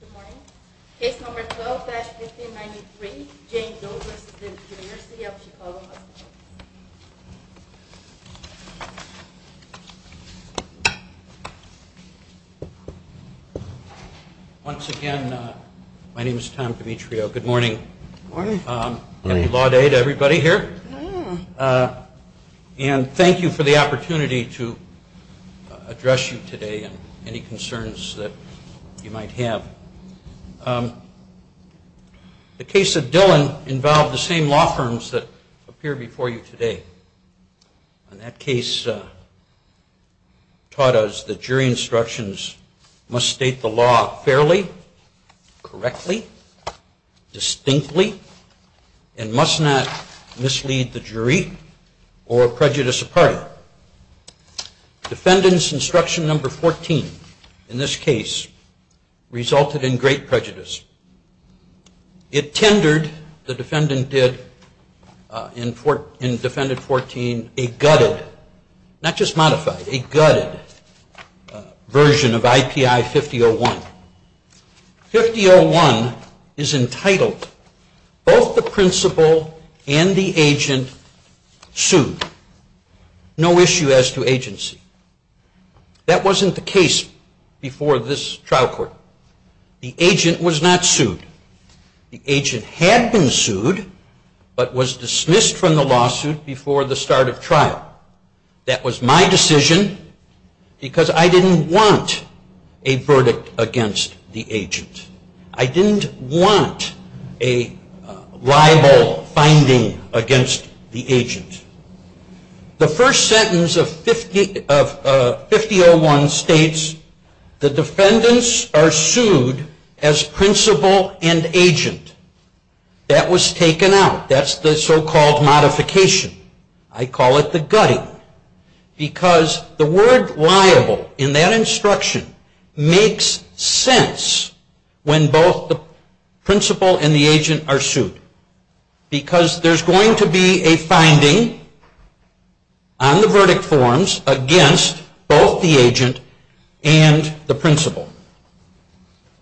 Good morning. Case number 12-1593, Jane Doe v. The University of Chicago Hospitals. Once again, my name is Tom Dimitrio. Good morning. Good morning. Happy Law Day to everybody here. And thank you for the opportunity to address you today and any concerns that you might have. The case of Dillon involved the same law firms that appear before you today. And that case taught us that jury instructions must state the law fairly, correctly, distinctly, and must not mislead the jury or prejudice a party. Defendant's instruction number 14 in this case resulted in great prejudice. It tendered, the defendant did, in defendant 14, a gutted, not just modified, a gutted version of IPI 5001. IPI 5001 is entitled, both the principal and the agent sued. No issue as to agency. That wasn't the case before this trial court. The agent was not sued. The agent had been sued, but was dismissed from the lawsuit before the start of trial. That was my decision because I didn't want a verdict against the agent. I didn't want a libel finding against the agent. The first sentence of 5001 states, the defendants are sued as principal and agent. That was taken out. That's the so-called modification. I call it the gutting. Because the word liable in that instruction makes sense when both the principal and the agent are sued. Because there's going to be a finding on the verdict forms against both the agent and the principal.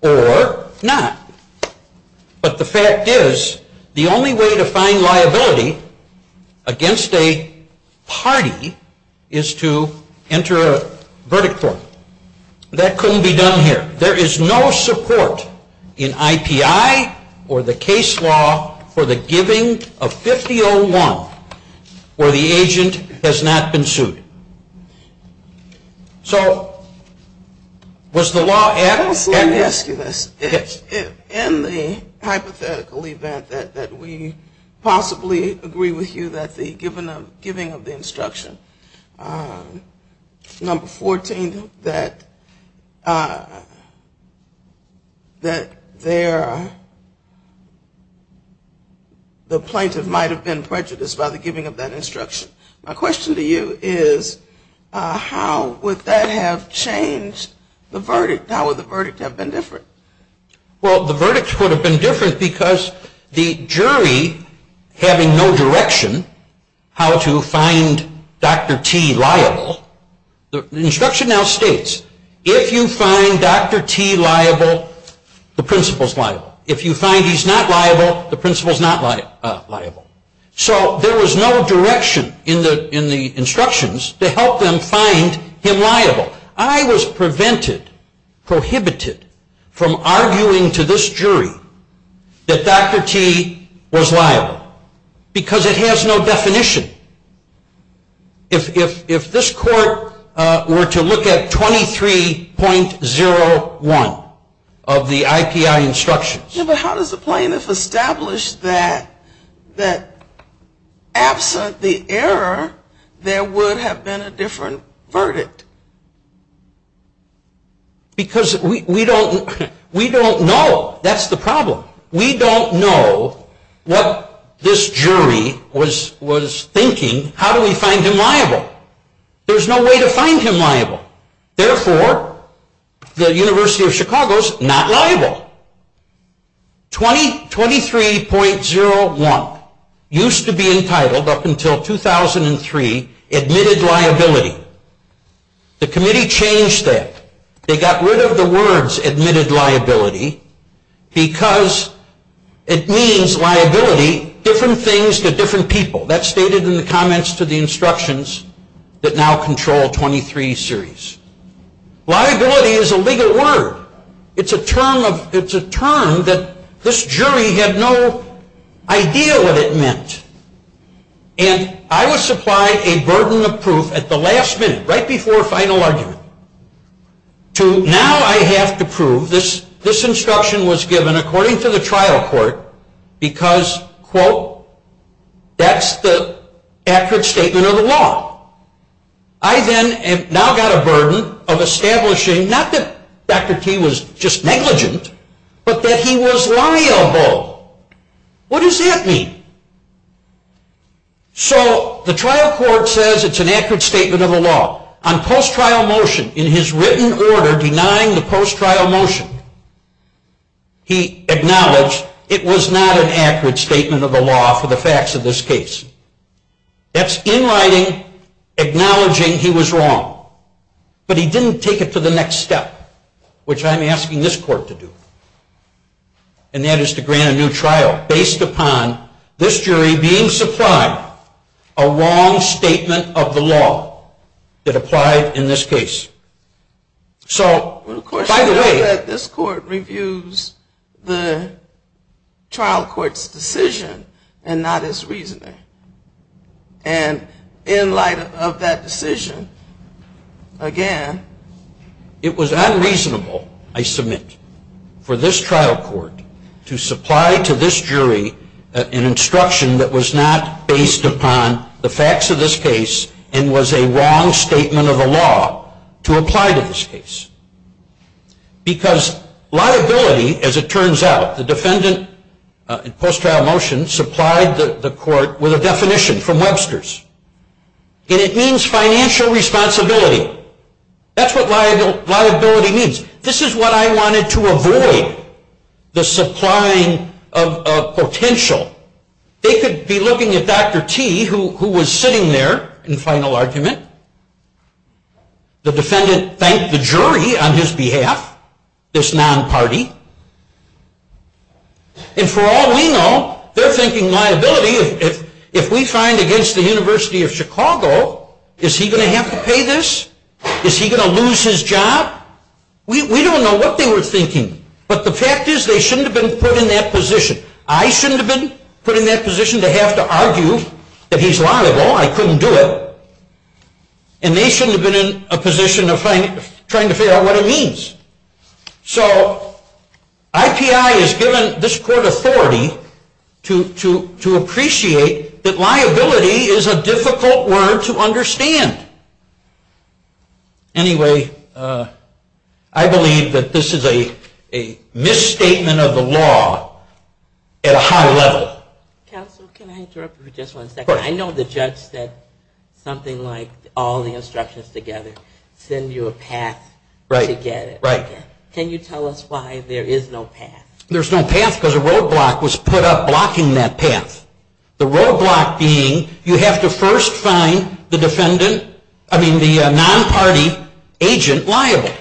Or not. But the fact is, the only way to find liability against a party is to enter a verdict form. That couldn't be done here. There is no support in IPI or the case law for the giving of 5001 where the agent has not been sued. So was the law adamant? Let me ask you this. In the hypothetical event that we possibly agree with you that the giving of the instruction, number 14, that the plaintiff might have been prejudiced by the giving of that instruction. My question to you is, how would that have changed the verdict? How would the verdict have been different? Well, the verdict would have been different because the jury having no direction how to find Dr. T liable. The instruction now states, if you find Dr. T liable, the principal's liable. If you find he's not liable, the principal's not liable. So there was no direction in the instructions to help them find him liable. I was prevented, prohibited, from arguing to this jury that Dr. T was liable. Because it has no definition. If this court were to look at 23.01 of the IPI instructions. But how does the plaintiff establish that absent the error, there would have been a different verdict? Because we don't know. That's the problem. We don't know what this jury was thinking. How do we find him liable? There's no way to find him liable. Therefore, the University of Chicago is not liable. 23.01 used to be entitled up until 2003, admitted liability. The committee changed that. They got rid of the words admitted liability because it means liability, different things to different people. That's stated in the comments to the instructions that now control 23 series. Liability is a legal word. It's a term that this jury had no idea what it meant. And I was supplied a burden of proof at the last minute, right before final argument, to now I have to prove, this instruction was given according to the trial court because, quote, that's the accurate statement of the law. I then now got a burden of establishing not that Dr. T was just negligent, but that he was liable. What does that mean? So the trial court says it's an accurate statement of the law. On post-trial motion, in his written order denying the post-trial motion, he acknowledged it was not an accurate statement of the law for the facts of this case. That's in writing, acknowledging he was wrong. But he didn't take it to the next step, which I'm asking this court to do. And that is to grant a new trial based upon this jury being supplied a wrong statement of the law that applied in this case. So, by the way... The question is that this court reviews the trial court's decision and not its reasoning. And in light of that decision, again... It was unreasonable, I submit, for this trial court to supply to this jury an instruction that was not based upon the facts of this case and was a wrong statement of the law to apply to this case. Because liability, as it turns out... The defendant, in post-trial motion, supplied the court with a definition from Webster's. And it means financial responsibility. That's what liability means. This is what I wanted to avoid. The supplying of potential. They could be looking at Dr. T, who was sitting there in final argument. The defendant thanked the jury on his behalf. This non-party. And for all we know, they're thinking liability. If we find against the University of Chicago, is he going to have to pay this? Is he going to lose his job? We don't know what they were thinking. But the fact is they shouldn't have been put in that position. I shouldn't have been put in that position to have to argue that he's liable. I couldn't do it. And they shouldn't have been in a position of trying to figure out what it means. So IPI has given this court authority to appreciate that liability is a difficult word to understand. Anyway, I believe that this is a misstatement of the law at a high level. Counsel, can I interrupt you for just one second? I know the judge said something like all the instructions together send you a path to get it. Right. Can you tell us why there is no path? There's no path because a roadblock was put up blocking that path. The roadblock being you have to first find the defendant, I mean the non-party agent liable.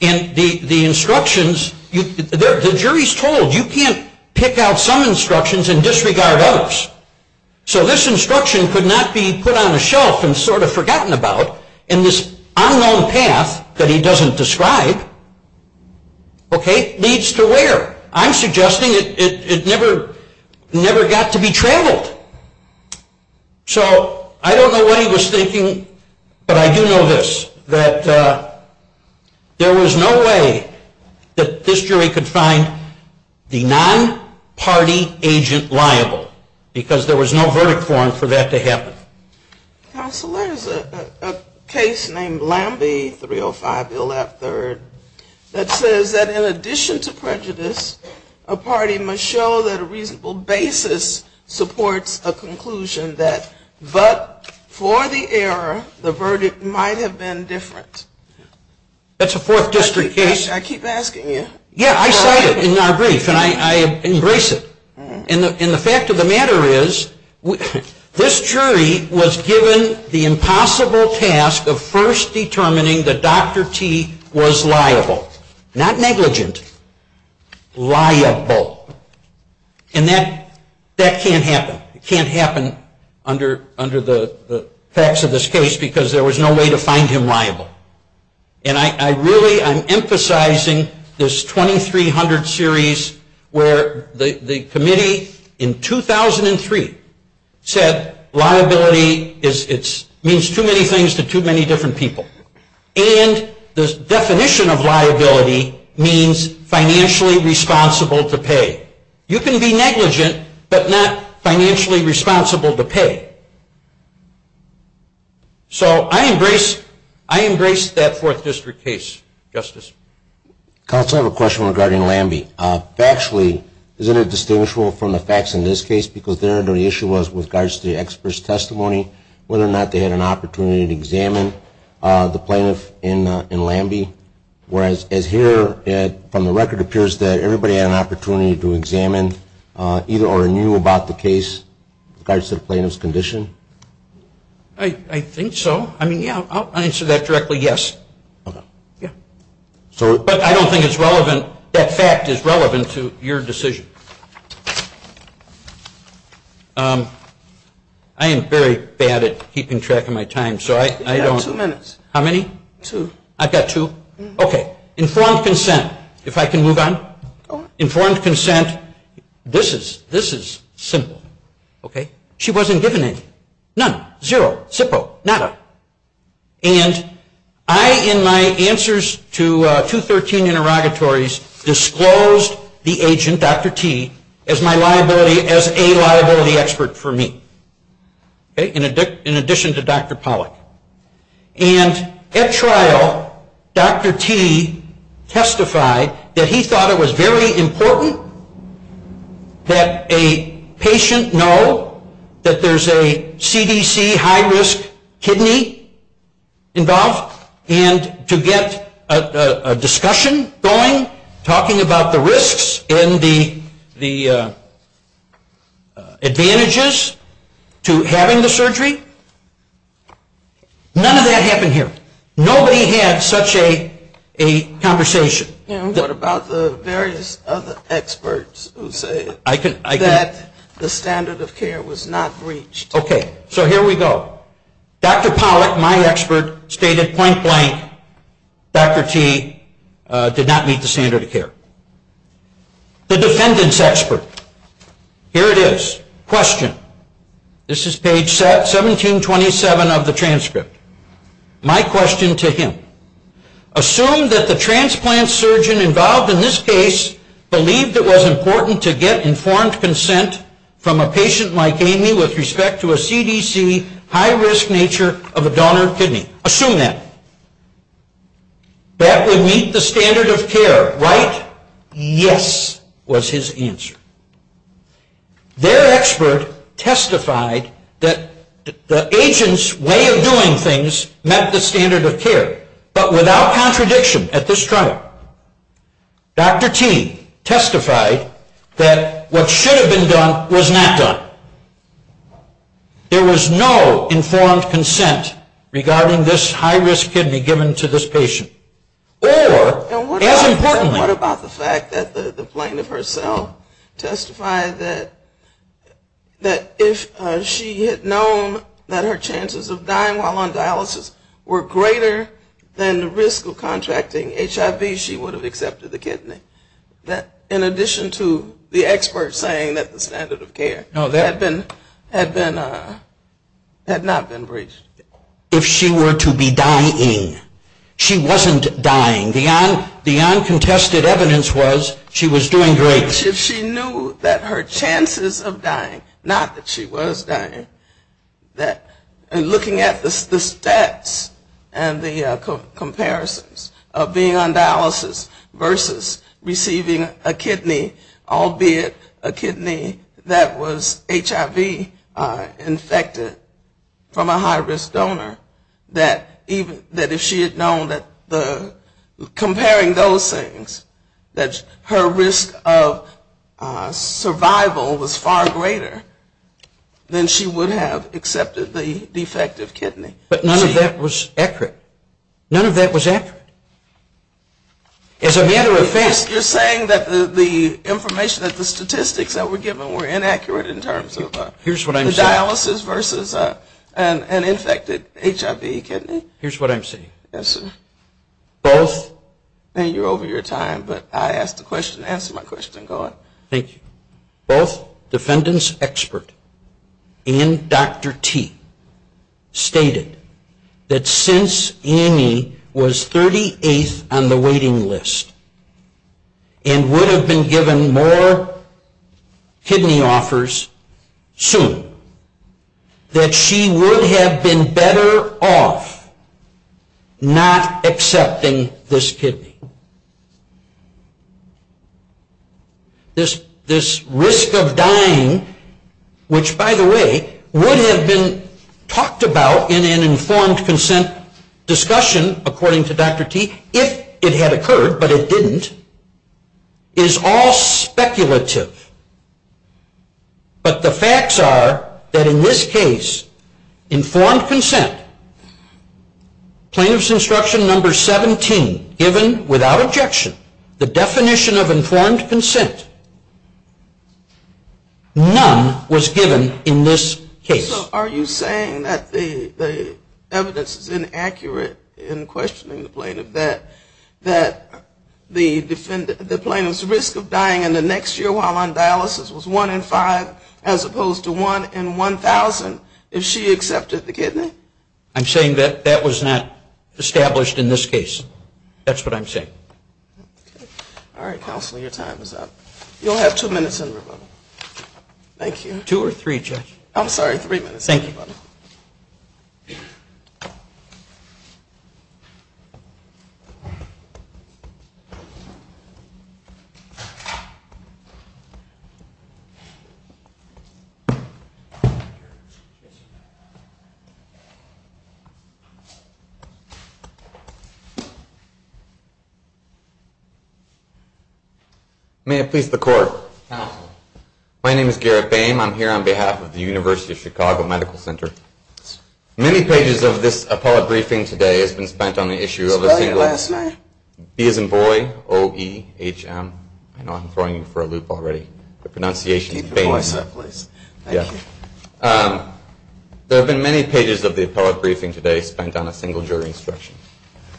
And the instructions, the jury's told you can't pick out some instructions and disregard others. So this instruction could not be put on a shelf and sort of forgotten about. And this unknown path that he doesn't describe needs to where? I'm suggesting it never got to be traveled. So I don't know what he was thinking, but I do know this. That there was no way that this jury could find the non-party agent liable. Because there was no verdict for him for that to happen. Counsel, there's a case named Lambie 305 Illap III that says that in addition to prejudice, a party must show that a reasonable basis supports a conclusion that but for the error, the verdict might have been different. That's a Fourth District case. I keep asking you. Yeah, I cite it in our brief and I embrace it. And the fact of the matter is this jury was given the impossible task of first determining that Dr. T was liable. Not negligent. Liable. And that can't happen. It can't happen under the facts of this case because there was no way to find him liable. And I really am emphasizing this 2300 series where the committee in 2003 said liability means too many things to too many different people. And the definition of liability means financially responsible to pay. You can be negligent, but not financially responsible to pay. So I embrace that Fourth District case, Justice. Counsel, I have a question regarding Lambie. Factually, is it indistinguishable from the facts in this case? Because there the issue was with regards to the expert's testimony, whether or not they had an opportunity to examine the plaintiff in Lambie. Whereas as here, from the record, it appears that everybody had an opportunity to examine either or knew about the case in regards to the plaintiff's condition. I think so. I mean, yeah, I'll answer that directly, yes. Okay. Yeah. But I don't think it's relevant, that fact is relevant to your decision. I am very bad at keeping track of my time, so I don't. You have two minutes. How many? Two. I've got two? Okay. Informed consent. If I can move on? Go ahead. Informed consent. This is simple. Okay. She wasn't given anything. None. Zero. Sipo. Nada. And I, in my answers to 213 interrogatories, disclosed the agent, Dr. T, as my liability, as a liability expert for me. In addition to Dr. Pollack. And at trial, Dr. T testified that he thought it was very important that a patient know that there's a CDC high-risk kidney involved, and to get a discussion going, talking about the risks and the advantages to having the surgery. None of that happened here. Nobody had such a conversation. And what about the various other experts who say that the standard of care was not reached? Okay. So here we go. Dr. Pollack, my expert, stated point blank, Dr. T did not meet the standard of care. The defendant's expert. Here it is. Question. This is page 1727 of the transcript. My question to him. Assume that the transplant surgeon involved in this case believed it was important to get informed consent from a patient like Amy with respect to a CDC high-risk nature of a donor kidney. Assume that. That would meet the standard of care, right? Yes, was his answer. Their expert testified that the agent's way of doing things met the standard of care. But without contradiction at this trial, Dr. T testified that what should have been done was not done. There was no informed consent regarding this high-risk kidney given to this patient. Or, as importantly. And what about the fact that the plaintiff herself testified that if she had known that her chances of dying while on dialysis were greater than the risk of contracting HIV, she would have accepted the kidney. In addition to the expert saying that the standard of care had not been reached. If she were to be dying. She wasn't dying. The uncontested evidence was she was doing great. But if she knew that her chances of dying, not that she was dying, looking at the stats and the comparisons of being on dialysis versus receiving a kidney, albeit a kidney that was HIV infected from a high-risk donor. That if she had known that comparing those things, that her risk of survival was far greater, then she would have accepted the defective kidney. But none of that was accurate. None of that was accurate. As a matter of fact. You're saying that the information, that the statistics that were given were inaccurate in terms of dialysis versus an infected HIV kidney? Here's what I'm saying. Yes, sir. Both. You're over your time, but I asked the question. Answer my question, go on. Thank you. Both defendant's expert and Dr. T stated that since Amy was 38th on the waiting list and would have been given more kidney offers soon, that she would have been better off not accepting this kidney. This risk of dying, which by the way, would have been talked about in an informed consent discussion, according to Dr. T, if it had occurred, but it didn't, is all speculative. But the facts are that in this case, informed consent, plaintiff's instruction number 17, given without objection, the definition of informed consent, none was given in this case. So are you saying that the evidence is inaccurate in questioning the plaintiff, that the plaintiff's risk of dying in the next year while on dialysis was 1 in 5 as opposed to 1 in 1,000 if she accepted the kidney? I'm saying that that was not established in this case. That's what I'm saying. All right, counsel, your time is up. You'll have two minutes in rebuttal. Thank you. Two or three, Judge. I'm sorry, three minutes. Thank you. Thank you. May it please the court. Counsel. My name is Garrett Boehm. I'm here on behalf of the University of Chicago Medical Center. Many pages of this appellate briefing today has been spent on the issue of a single jury instruction. There have been many pages of the appellate briefing today spent on a single jury instruction.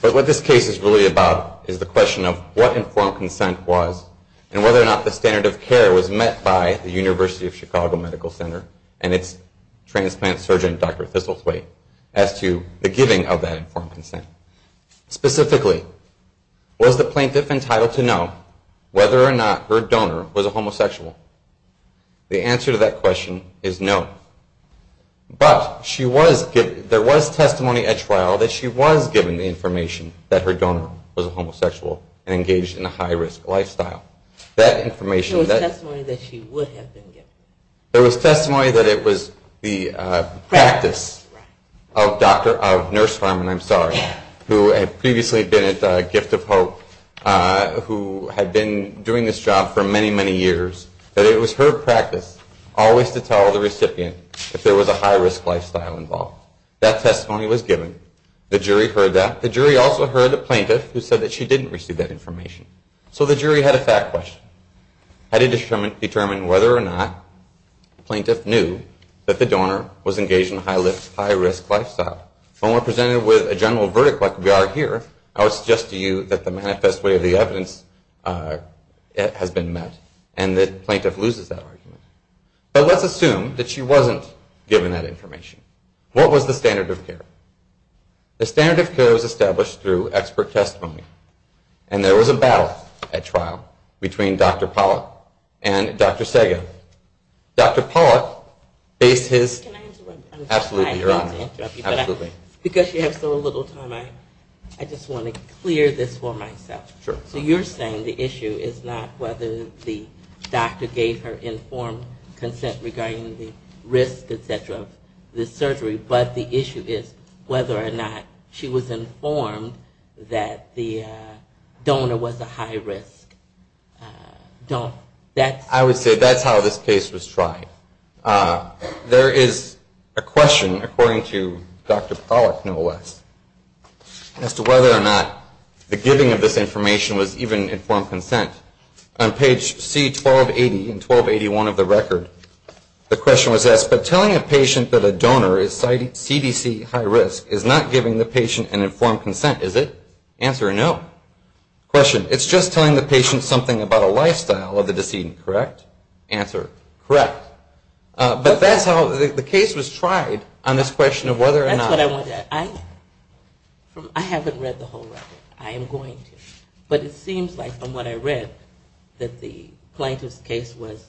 But what this case is really about is the question of what informed consent was and whether or not the standard of care was met by the University of Chicago Medical Center and its transplant surgeon, Dr. Thistlethwaite, as to the giving of that informed consent. Specifically, was the plaintiff entitled to know whether or not her donor was a homosexual? The answer to that question is no. But there was testimony at trial that she was given the information that her donor was a homosexual and engaged in a high-risk lifestyle. There was testimony that she would have been given. There was testimony that it was the practice of Nurse Farman, I'm sorry, who had previously been at Gift of Hope, who had been doing this job for many, many years, that it was her practice always to tell the recipient if there was a high-risk lifestyle involved. That testimony was given. The jury heard that. There was a plaintiff who said that she didn't receive that information. So the jury had a fact question. Had it determined whether or not the plaintiff knew that the donor was engaged in a high-risk lifestyle? When we're presented with a general verdict like we are here, I would suggest to you that the manifest way of the evidence has been met and the plaintiff loses that argument. But let's assume that she wasn't given that information. What was the standard of care? The standard of care was established through expert testimony, and there was a battle at trial between Dr. Pollack and Dr. Sega. Dr. Pollack faced his- Can I interrupt you? Absolutely, Your Honor. I don't mean to interrupt you, but because you have so little time, I just want to clear this for myself. So you're saying the issue is not whether the doctor gave her informed consent regarding the risk, et cetera, of this surgery, but the issue is whether or not she was informed that the donor was a high-risk? I would say that's how this case was tried. There is a question, according to Dr. Pollack, no less, as to whether or not the giving of this information was even informed consent. On page C1280 and 1281 of the record, the question was asked, but telling a patient that a donor is CDC high-risk is not giving the patient an informed consent, is it? Answer, no. Question, it's just telling the patient something about a lifestyle of the decedent, correct? Answer, correct. But that's how the case was tried on this question of whether or not- That's what I wanted to ask. I haven't read the whole record. I am going to. But it seems like, from what I read, that the plaintiff's case was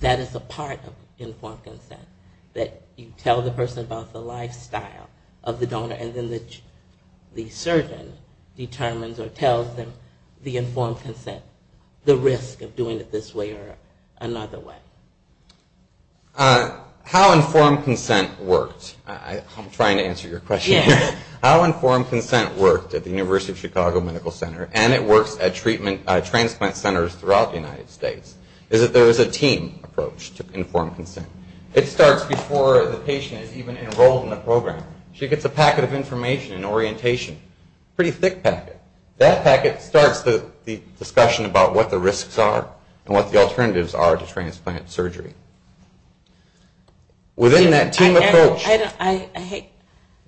that is a part of informed consent, that you tell the person about the lifestyle of the donor, and then the surgeon determines or tells them the informed consent, the risk of doing it this way or another way. How informed consent worked. I'm trying to answer your question. How informed consent worked at the University of Chicago Medical Center, and it works at transplant centers throughout the United States, is that there is a team approach to informed consent. It starts before the patient is even enrolled in the program. She gets a packet of information and orientation, a pretty thick packet. That packet starts the discussion about what the risks are and what the alternatives are to transplant surgery. Within that team approach- I hate-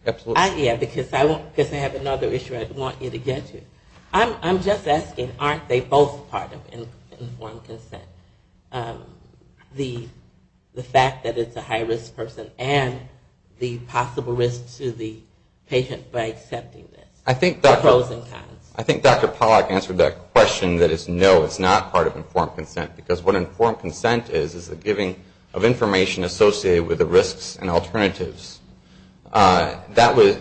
Absolutely. Yeah, because I have another issue I want you to get to. I'm just asking, aren't they both part of informed consent? The fact that it's a high-risk person and the possible risk to the patient by accepting this. I think Dr. Pollack answered that question that it's no, it's not part of informed consent. Because what informed consent is, is the giving of information associated with the risks and alternatives.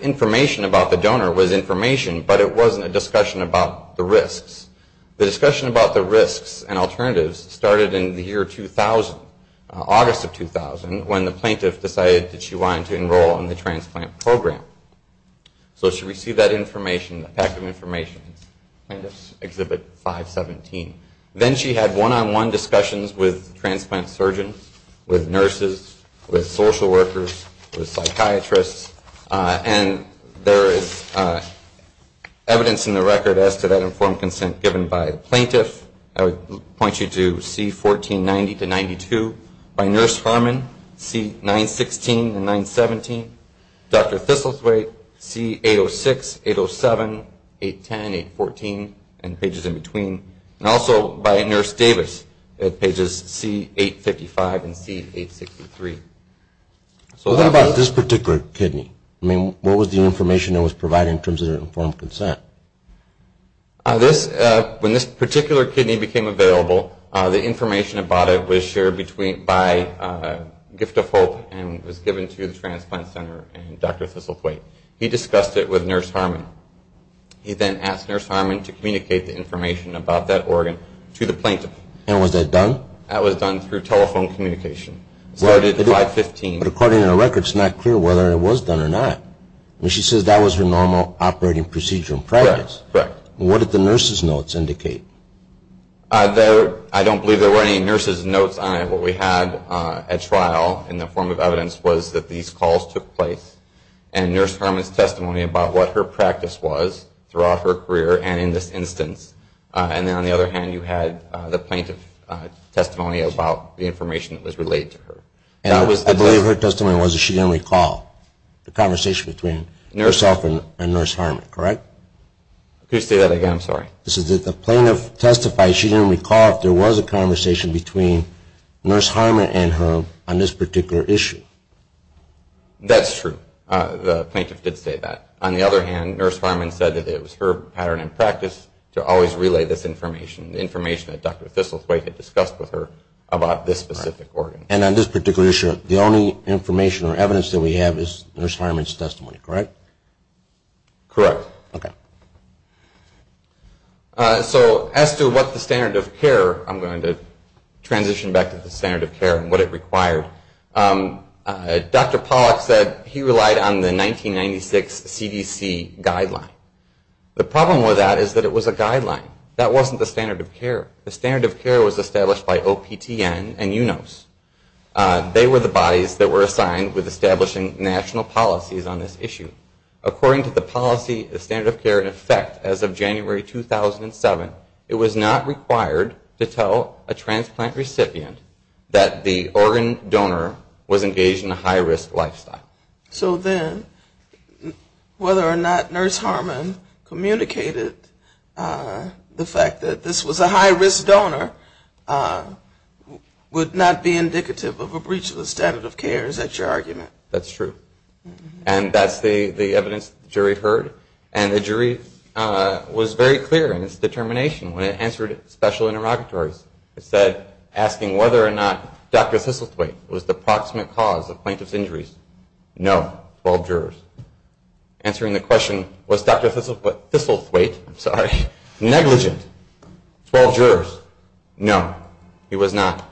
Information about the donor was information, but it wasn't a discussion about the risks. The discussion about the risks and alternatives started in the year 2000, August of 2000, when the plaintiff decided that she wanted to enroll in the transplant program. So she received that information, that packet of information. Plaintiff's Exhibit 517. Then she had one-on-one discussions with transplant surgeons, with nurses, with social workers, with psychiatrists. And there is evidence in the record as to that informed consent given by the plaintiff. I would point you to C1490-92 by Nurse Harmon, C916 and 917. Dr. Thistlethwaite, C806, 807, 810, 814, and pages in between. And also by Nurse Davis at pages C855 and C863. What about this particular kidney? I mean, what was the information that was provided in terms of informed consent? When this particular kidney became available, the information about it was shared by Gift of Hope and was given to the transplant center and Dr. Thistlethwaite. He discussed it with Nurse Harmon. He then asked Nurse Harmon to communicate the information about that organ to the plaintiff. And was that done? That was done through telephone communication. It started at 515. But according to the record, it's not clear whether it was done or not. She says that was her normal operating procedure in practice. Correct. What did the nurse's notes indicate? I don't believe there were any nurse's notes on it. What we had at trial in the form of evidence was that these calls took place and Nurse Harmon's testimony about what her practice was throughout her career and in this instance. And then on the other hand, you had the plaintiff's testimony about the information that was relayed to her. I believe her testimony was that she didn't recall the conversation between herself and Nurse Harmon, correct? Could you say that again? I'm sorry. The plaintiff testified she didn't recall if there was a conversation between Nurse Harmon and her on this particular issue. That's true. The plaintiff did say that. On the other hand, Nurse Harmon said that it was her pattern in practice to always relay this information, the information that Dr. Thistlethwaite had discussed with her about this specific organ. And on this particular issue, the only information or evidence that we have is Nurse Harmon's testimony, correct? Correct. Okay. So as to what the standard of care, I'm going to transition back to the standard of care and what it required. Dr. Pollack said he relied on the 1996 CDC guideline. The problem with that is that it was a guideline. That wasn't the standard of care. The standard of care was established by OPTN and UNOS. They were the bodies that were assigned with establishing national policies on this issue. According to the policy, the standard of care in effect as of January 2007, it was not required to tell a transplant recipient that the organ donor was engaged in a high-risk lifestyle. So then whether or not Nurse Harmon communicated the fact that this was a high-risk donor would not be indicative of a breach of the standard of care. Is that your argument? That's true. And that's the evidence the jury heard. And the jury was very clear in its determination when it answered special interrogatories. It said, asking whether or not Dr. Thistlethwaite was the proximate cause of plaintiff's injuries, no, 12 jurors. Answering the question, was Dr. Thistlethwaite negligent, 12 jurors, no, he was not.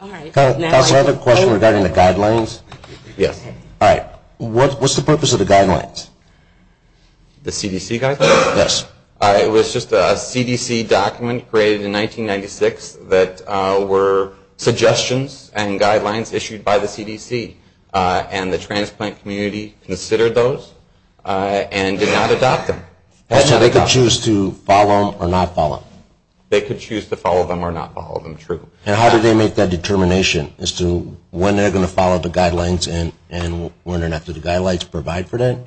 Another question regarding the guidelines? Yes. All right. What's the purpose of the guidelines? The CDC guidelines? Yes. It was just a CDC document created in 1996 that were suggestions and guidelines issued by the CDC. And the transplant community considered those and did not adopt them. So they could choose to follow them or not follow them? They could choose to follow them or not follow them, true. And how did they make that determination as to when they're going to follow the guidelines and whether or not the guidelines provide for that?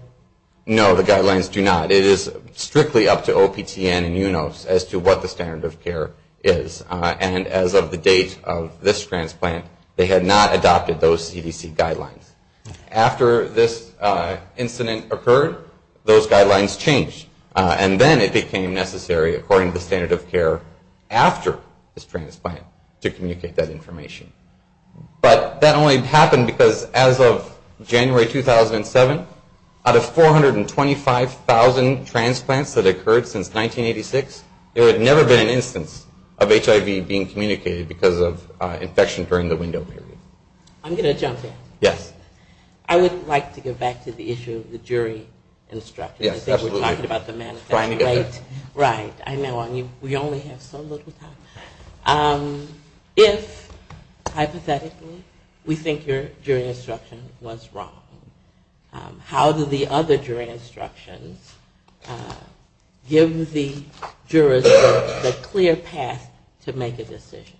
No, the guidelines do not. It is strictly up to OPTN and UNOS as to what the standard of care is. And as of the date of this transplant, they had not adopted those CDC guidelines. After this incident occurred, those guidelines changed. And then it became necessary, according to the standard of care after this transplant, to communicate that information. But that only happened because as of January 2007, out of 425,000 transplants that occurred since 1986, there had never been an instance of HIV being communicated because of infection during the window period. I'm going to jump in. Yes. I would like to go back to the issue of the jury instruction. Yes, absolutely. Right. I know. We only have so little time. If, hypothetically, we think your jury instruction was wrong, how do the other jury instructions give the jurors the clear path to make a decision?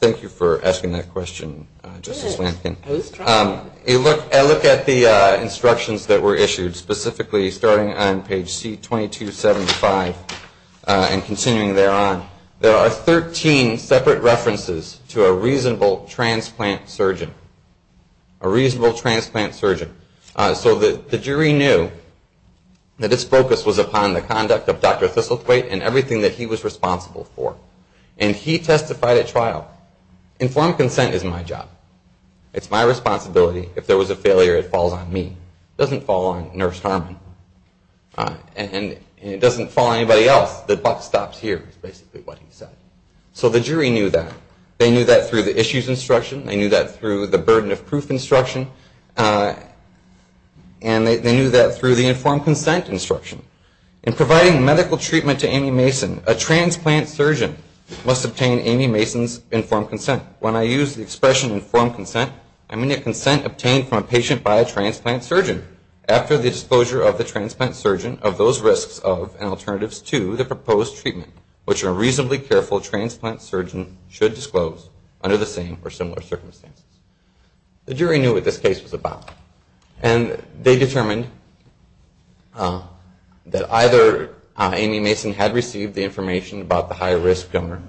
Thank you for asking that question, Justice Lankin. I look at the instructions that were issued, specifically starting on page C-2275 and continuing thereon. There are 13 separate references to a reasonable transplant surgeon. A reasonable transplant surgeon. So the jury knew that its focus was upon the conduct of Dr. Thistlethwaite and everything that he was responsible for. And he testified at trial. Informed consent is my job. It's my responsibility. If there was a failure, it falls on me. It doesn't fall on Nurse Harmon. And it doesn't fall on anybody else. The buck stops here, is basically what he said. So the jury knew that. They knew that through the issues instruction. They knew that through the burden of proof instruction. And they knew that through the informed consent instruction. In providing medical treatment to Amy Mason, a transplant surgeon must obtain Amy Mason's informed consent. When I use the expression informed consent, I mean a consent obtained from a patient by a transplant surgeon. After the disclosure of the transplant surgeon, of those risks of and alternatives to the proposed treatment, which a reasonably careful transplant surgeon should disclose, under the same or similar circumstances. The jury knew what this case was about. And they determined that either Amy Mason had received the information about the high-risk donor,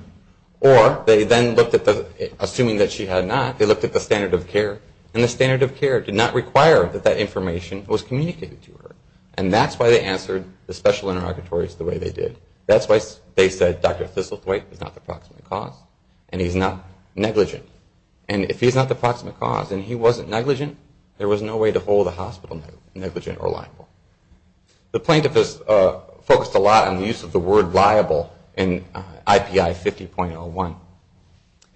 or they then looked at the, assuming that she had not, they looked at the standard of care. And the standard of care did not require that that information was communicated to her. And that's why they answered the special interrogatories the way they did. That's why they said Dr. Thistlethwaite is not the proximate cause. And he's not negligent. And if he's not the proximate cause, and he wasn't negligent, there was no way to hold the hospital negligent or liable. The plaintiff has focused a lot on the use of the word liable in IPI 50.01.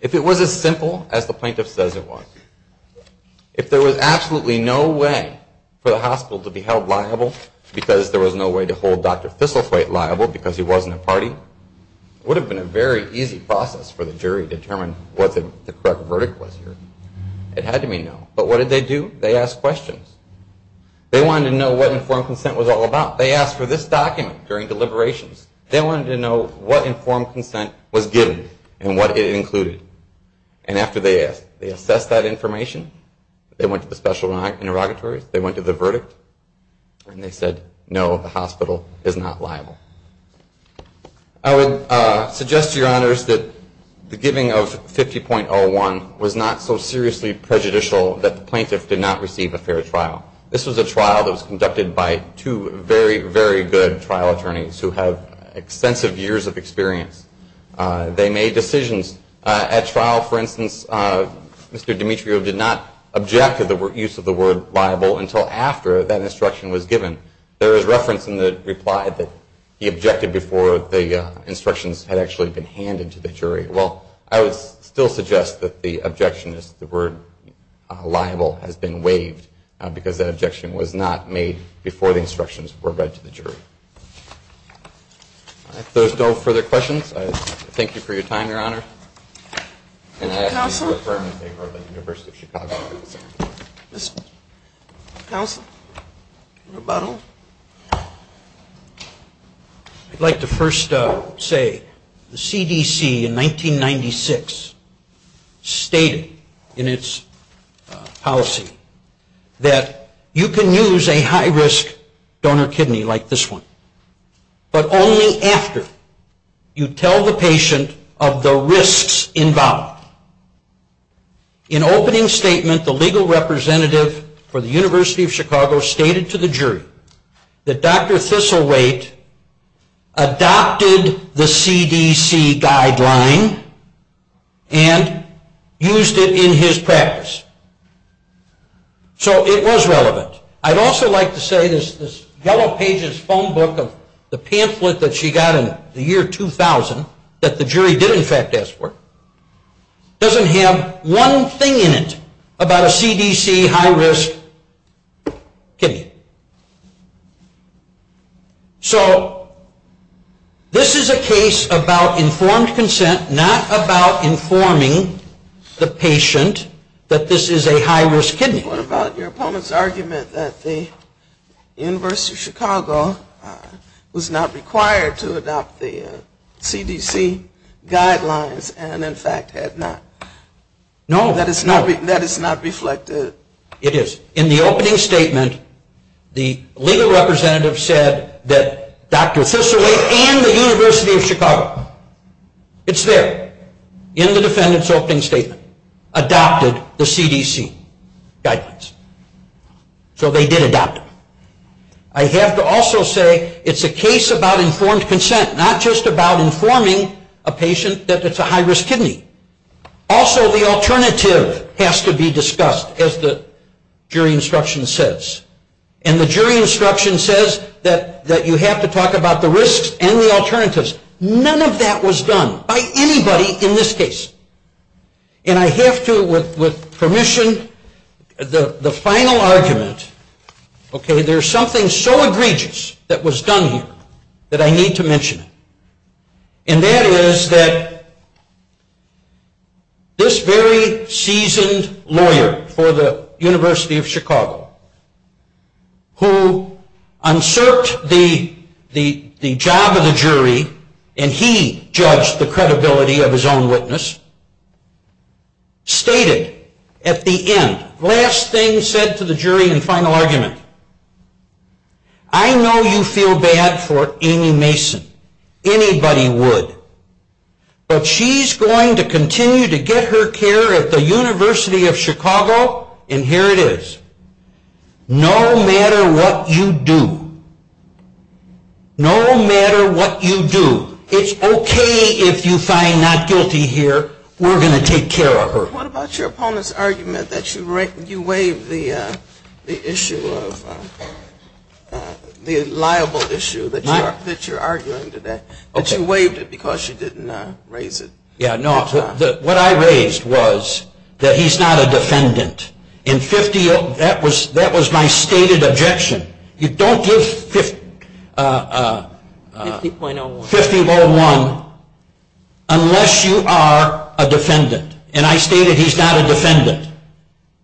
If it was as simple as the plaintiff says it was, if there was absolutely no way for the hospital to be held liable, because there was no way to hold Dr. Thistlethwaite liable, because he wasn't a party, it would have been a very easy process for the jury to determine what the correct verdict was here. It had to be no. But what did they do? They asked questions. They wanted to know what informed consent was all about. They asked for this document during deliberations. They wanted to know what informed consent was given and what it included. And after they asked, they assessed that information. They went to the special interrogatories. They went to the verdict. And they said, no, the hospital is not liable. I would suggest to your honors that the giving of 50.01 was not so seriously prejudicial that the plaintiff did not receive a fair trial. This was a trial that was conducted by two very, very good trial attorneys who have extensive years of experience. They made decisions. At trial, for instance, Mr. Dimitrio did not object to the use of the word liable until after that instruction was given. There is reference in the reply that he objected before the instructions had actually been handed to the jury. Well, I would still suggest that the objection is the word liable has been waived because that objection was not made before the instructions were read to the jury. If there are no further questions, I thank you for your time, Your Honor. Thank you, Your Honor. Counsel? Counsel? I'd like to first say the CDC in 1996 stated in its policy that you can use a high-risk donor kidney like this one, but only after you tell the patient of the risks involved. In opening statement, the legal representative for the University of Chicago stated to the jury that Dr. Thistleweight adopted the CDC guideline and used it in his practice. So it was relevant. I'd also like to say this Yellow Pages phone book of the pamphlet that she got in the year 2000 that the jury did in fact ask for doesn't have one thing in it about a CDC high-risk kidney. So this is a case about informed consent, not about informing the patient that this is a high-risk kidney. What about your opponent's argument that the University of Chicago was not required to adopt the CDC guidelines and in fact had not? No. That it's not reflected? It is. In the opening statement, the legal representative said that Dr. Thistleweight and the University of Chicago, it's there, in the defendant's opening statement, adopted the CDC guidelines. So they did adopt them. I have to also say it's a case about informed consent, not just about informing a patient that it's a high-risk kidney. Also the alternative has to be discussed, as the jury instruction says. And the jury instruction says that you have to talk about the risks and the alternatives. None of that was done by anybody in this case. And I have to, with permission, the final argument, there's something so egregious that was done here that I need to mention it. And that is that this very seasoned lawyer for the University of Chicago, who unserved the job of the jury, and he judged the credibility of his own witness, stated at the end, last thing said to the jury in the final argument, I know you feel bad for Amy Mason. Anybody would. But she's going to continue to get her care at the University of Chicago, and here it is. No matter what you do. No matter what you do. It's okay if you find not guilty here. We're going to take care of her. What about your opponent's argument that you waived the issue of, the liable issue that you're arguing today? That you waived it because you didn't raise it. Yeah, no, what I raised was that he's not a defendant. That was my stated objection. You don't give 50.01 unless you are a defendant. And I stated he's not a defendant.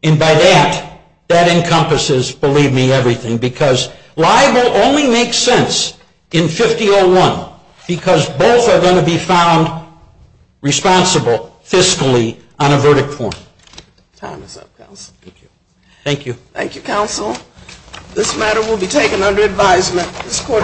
And by that, that encompasses, believe me, everything. Because liable only makes sense in 50.01. Because both are going to be found responsible fiscally on a verdict form. Time is up, counsel. Thank you. Thank you, counsel. This matter will be taken under advisement. This court is adjourned.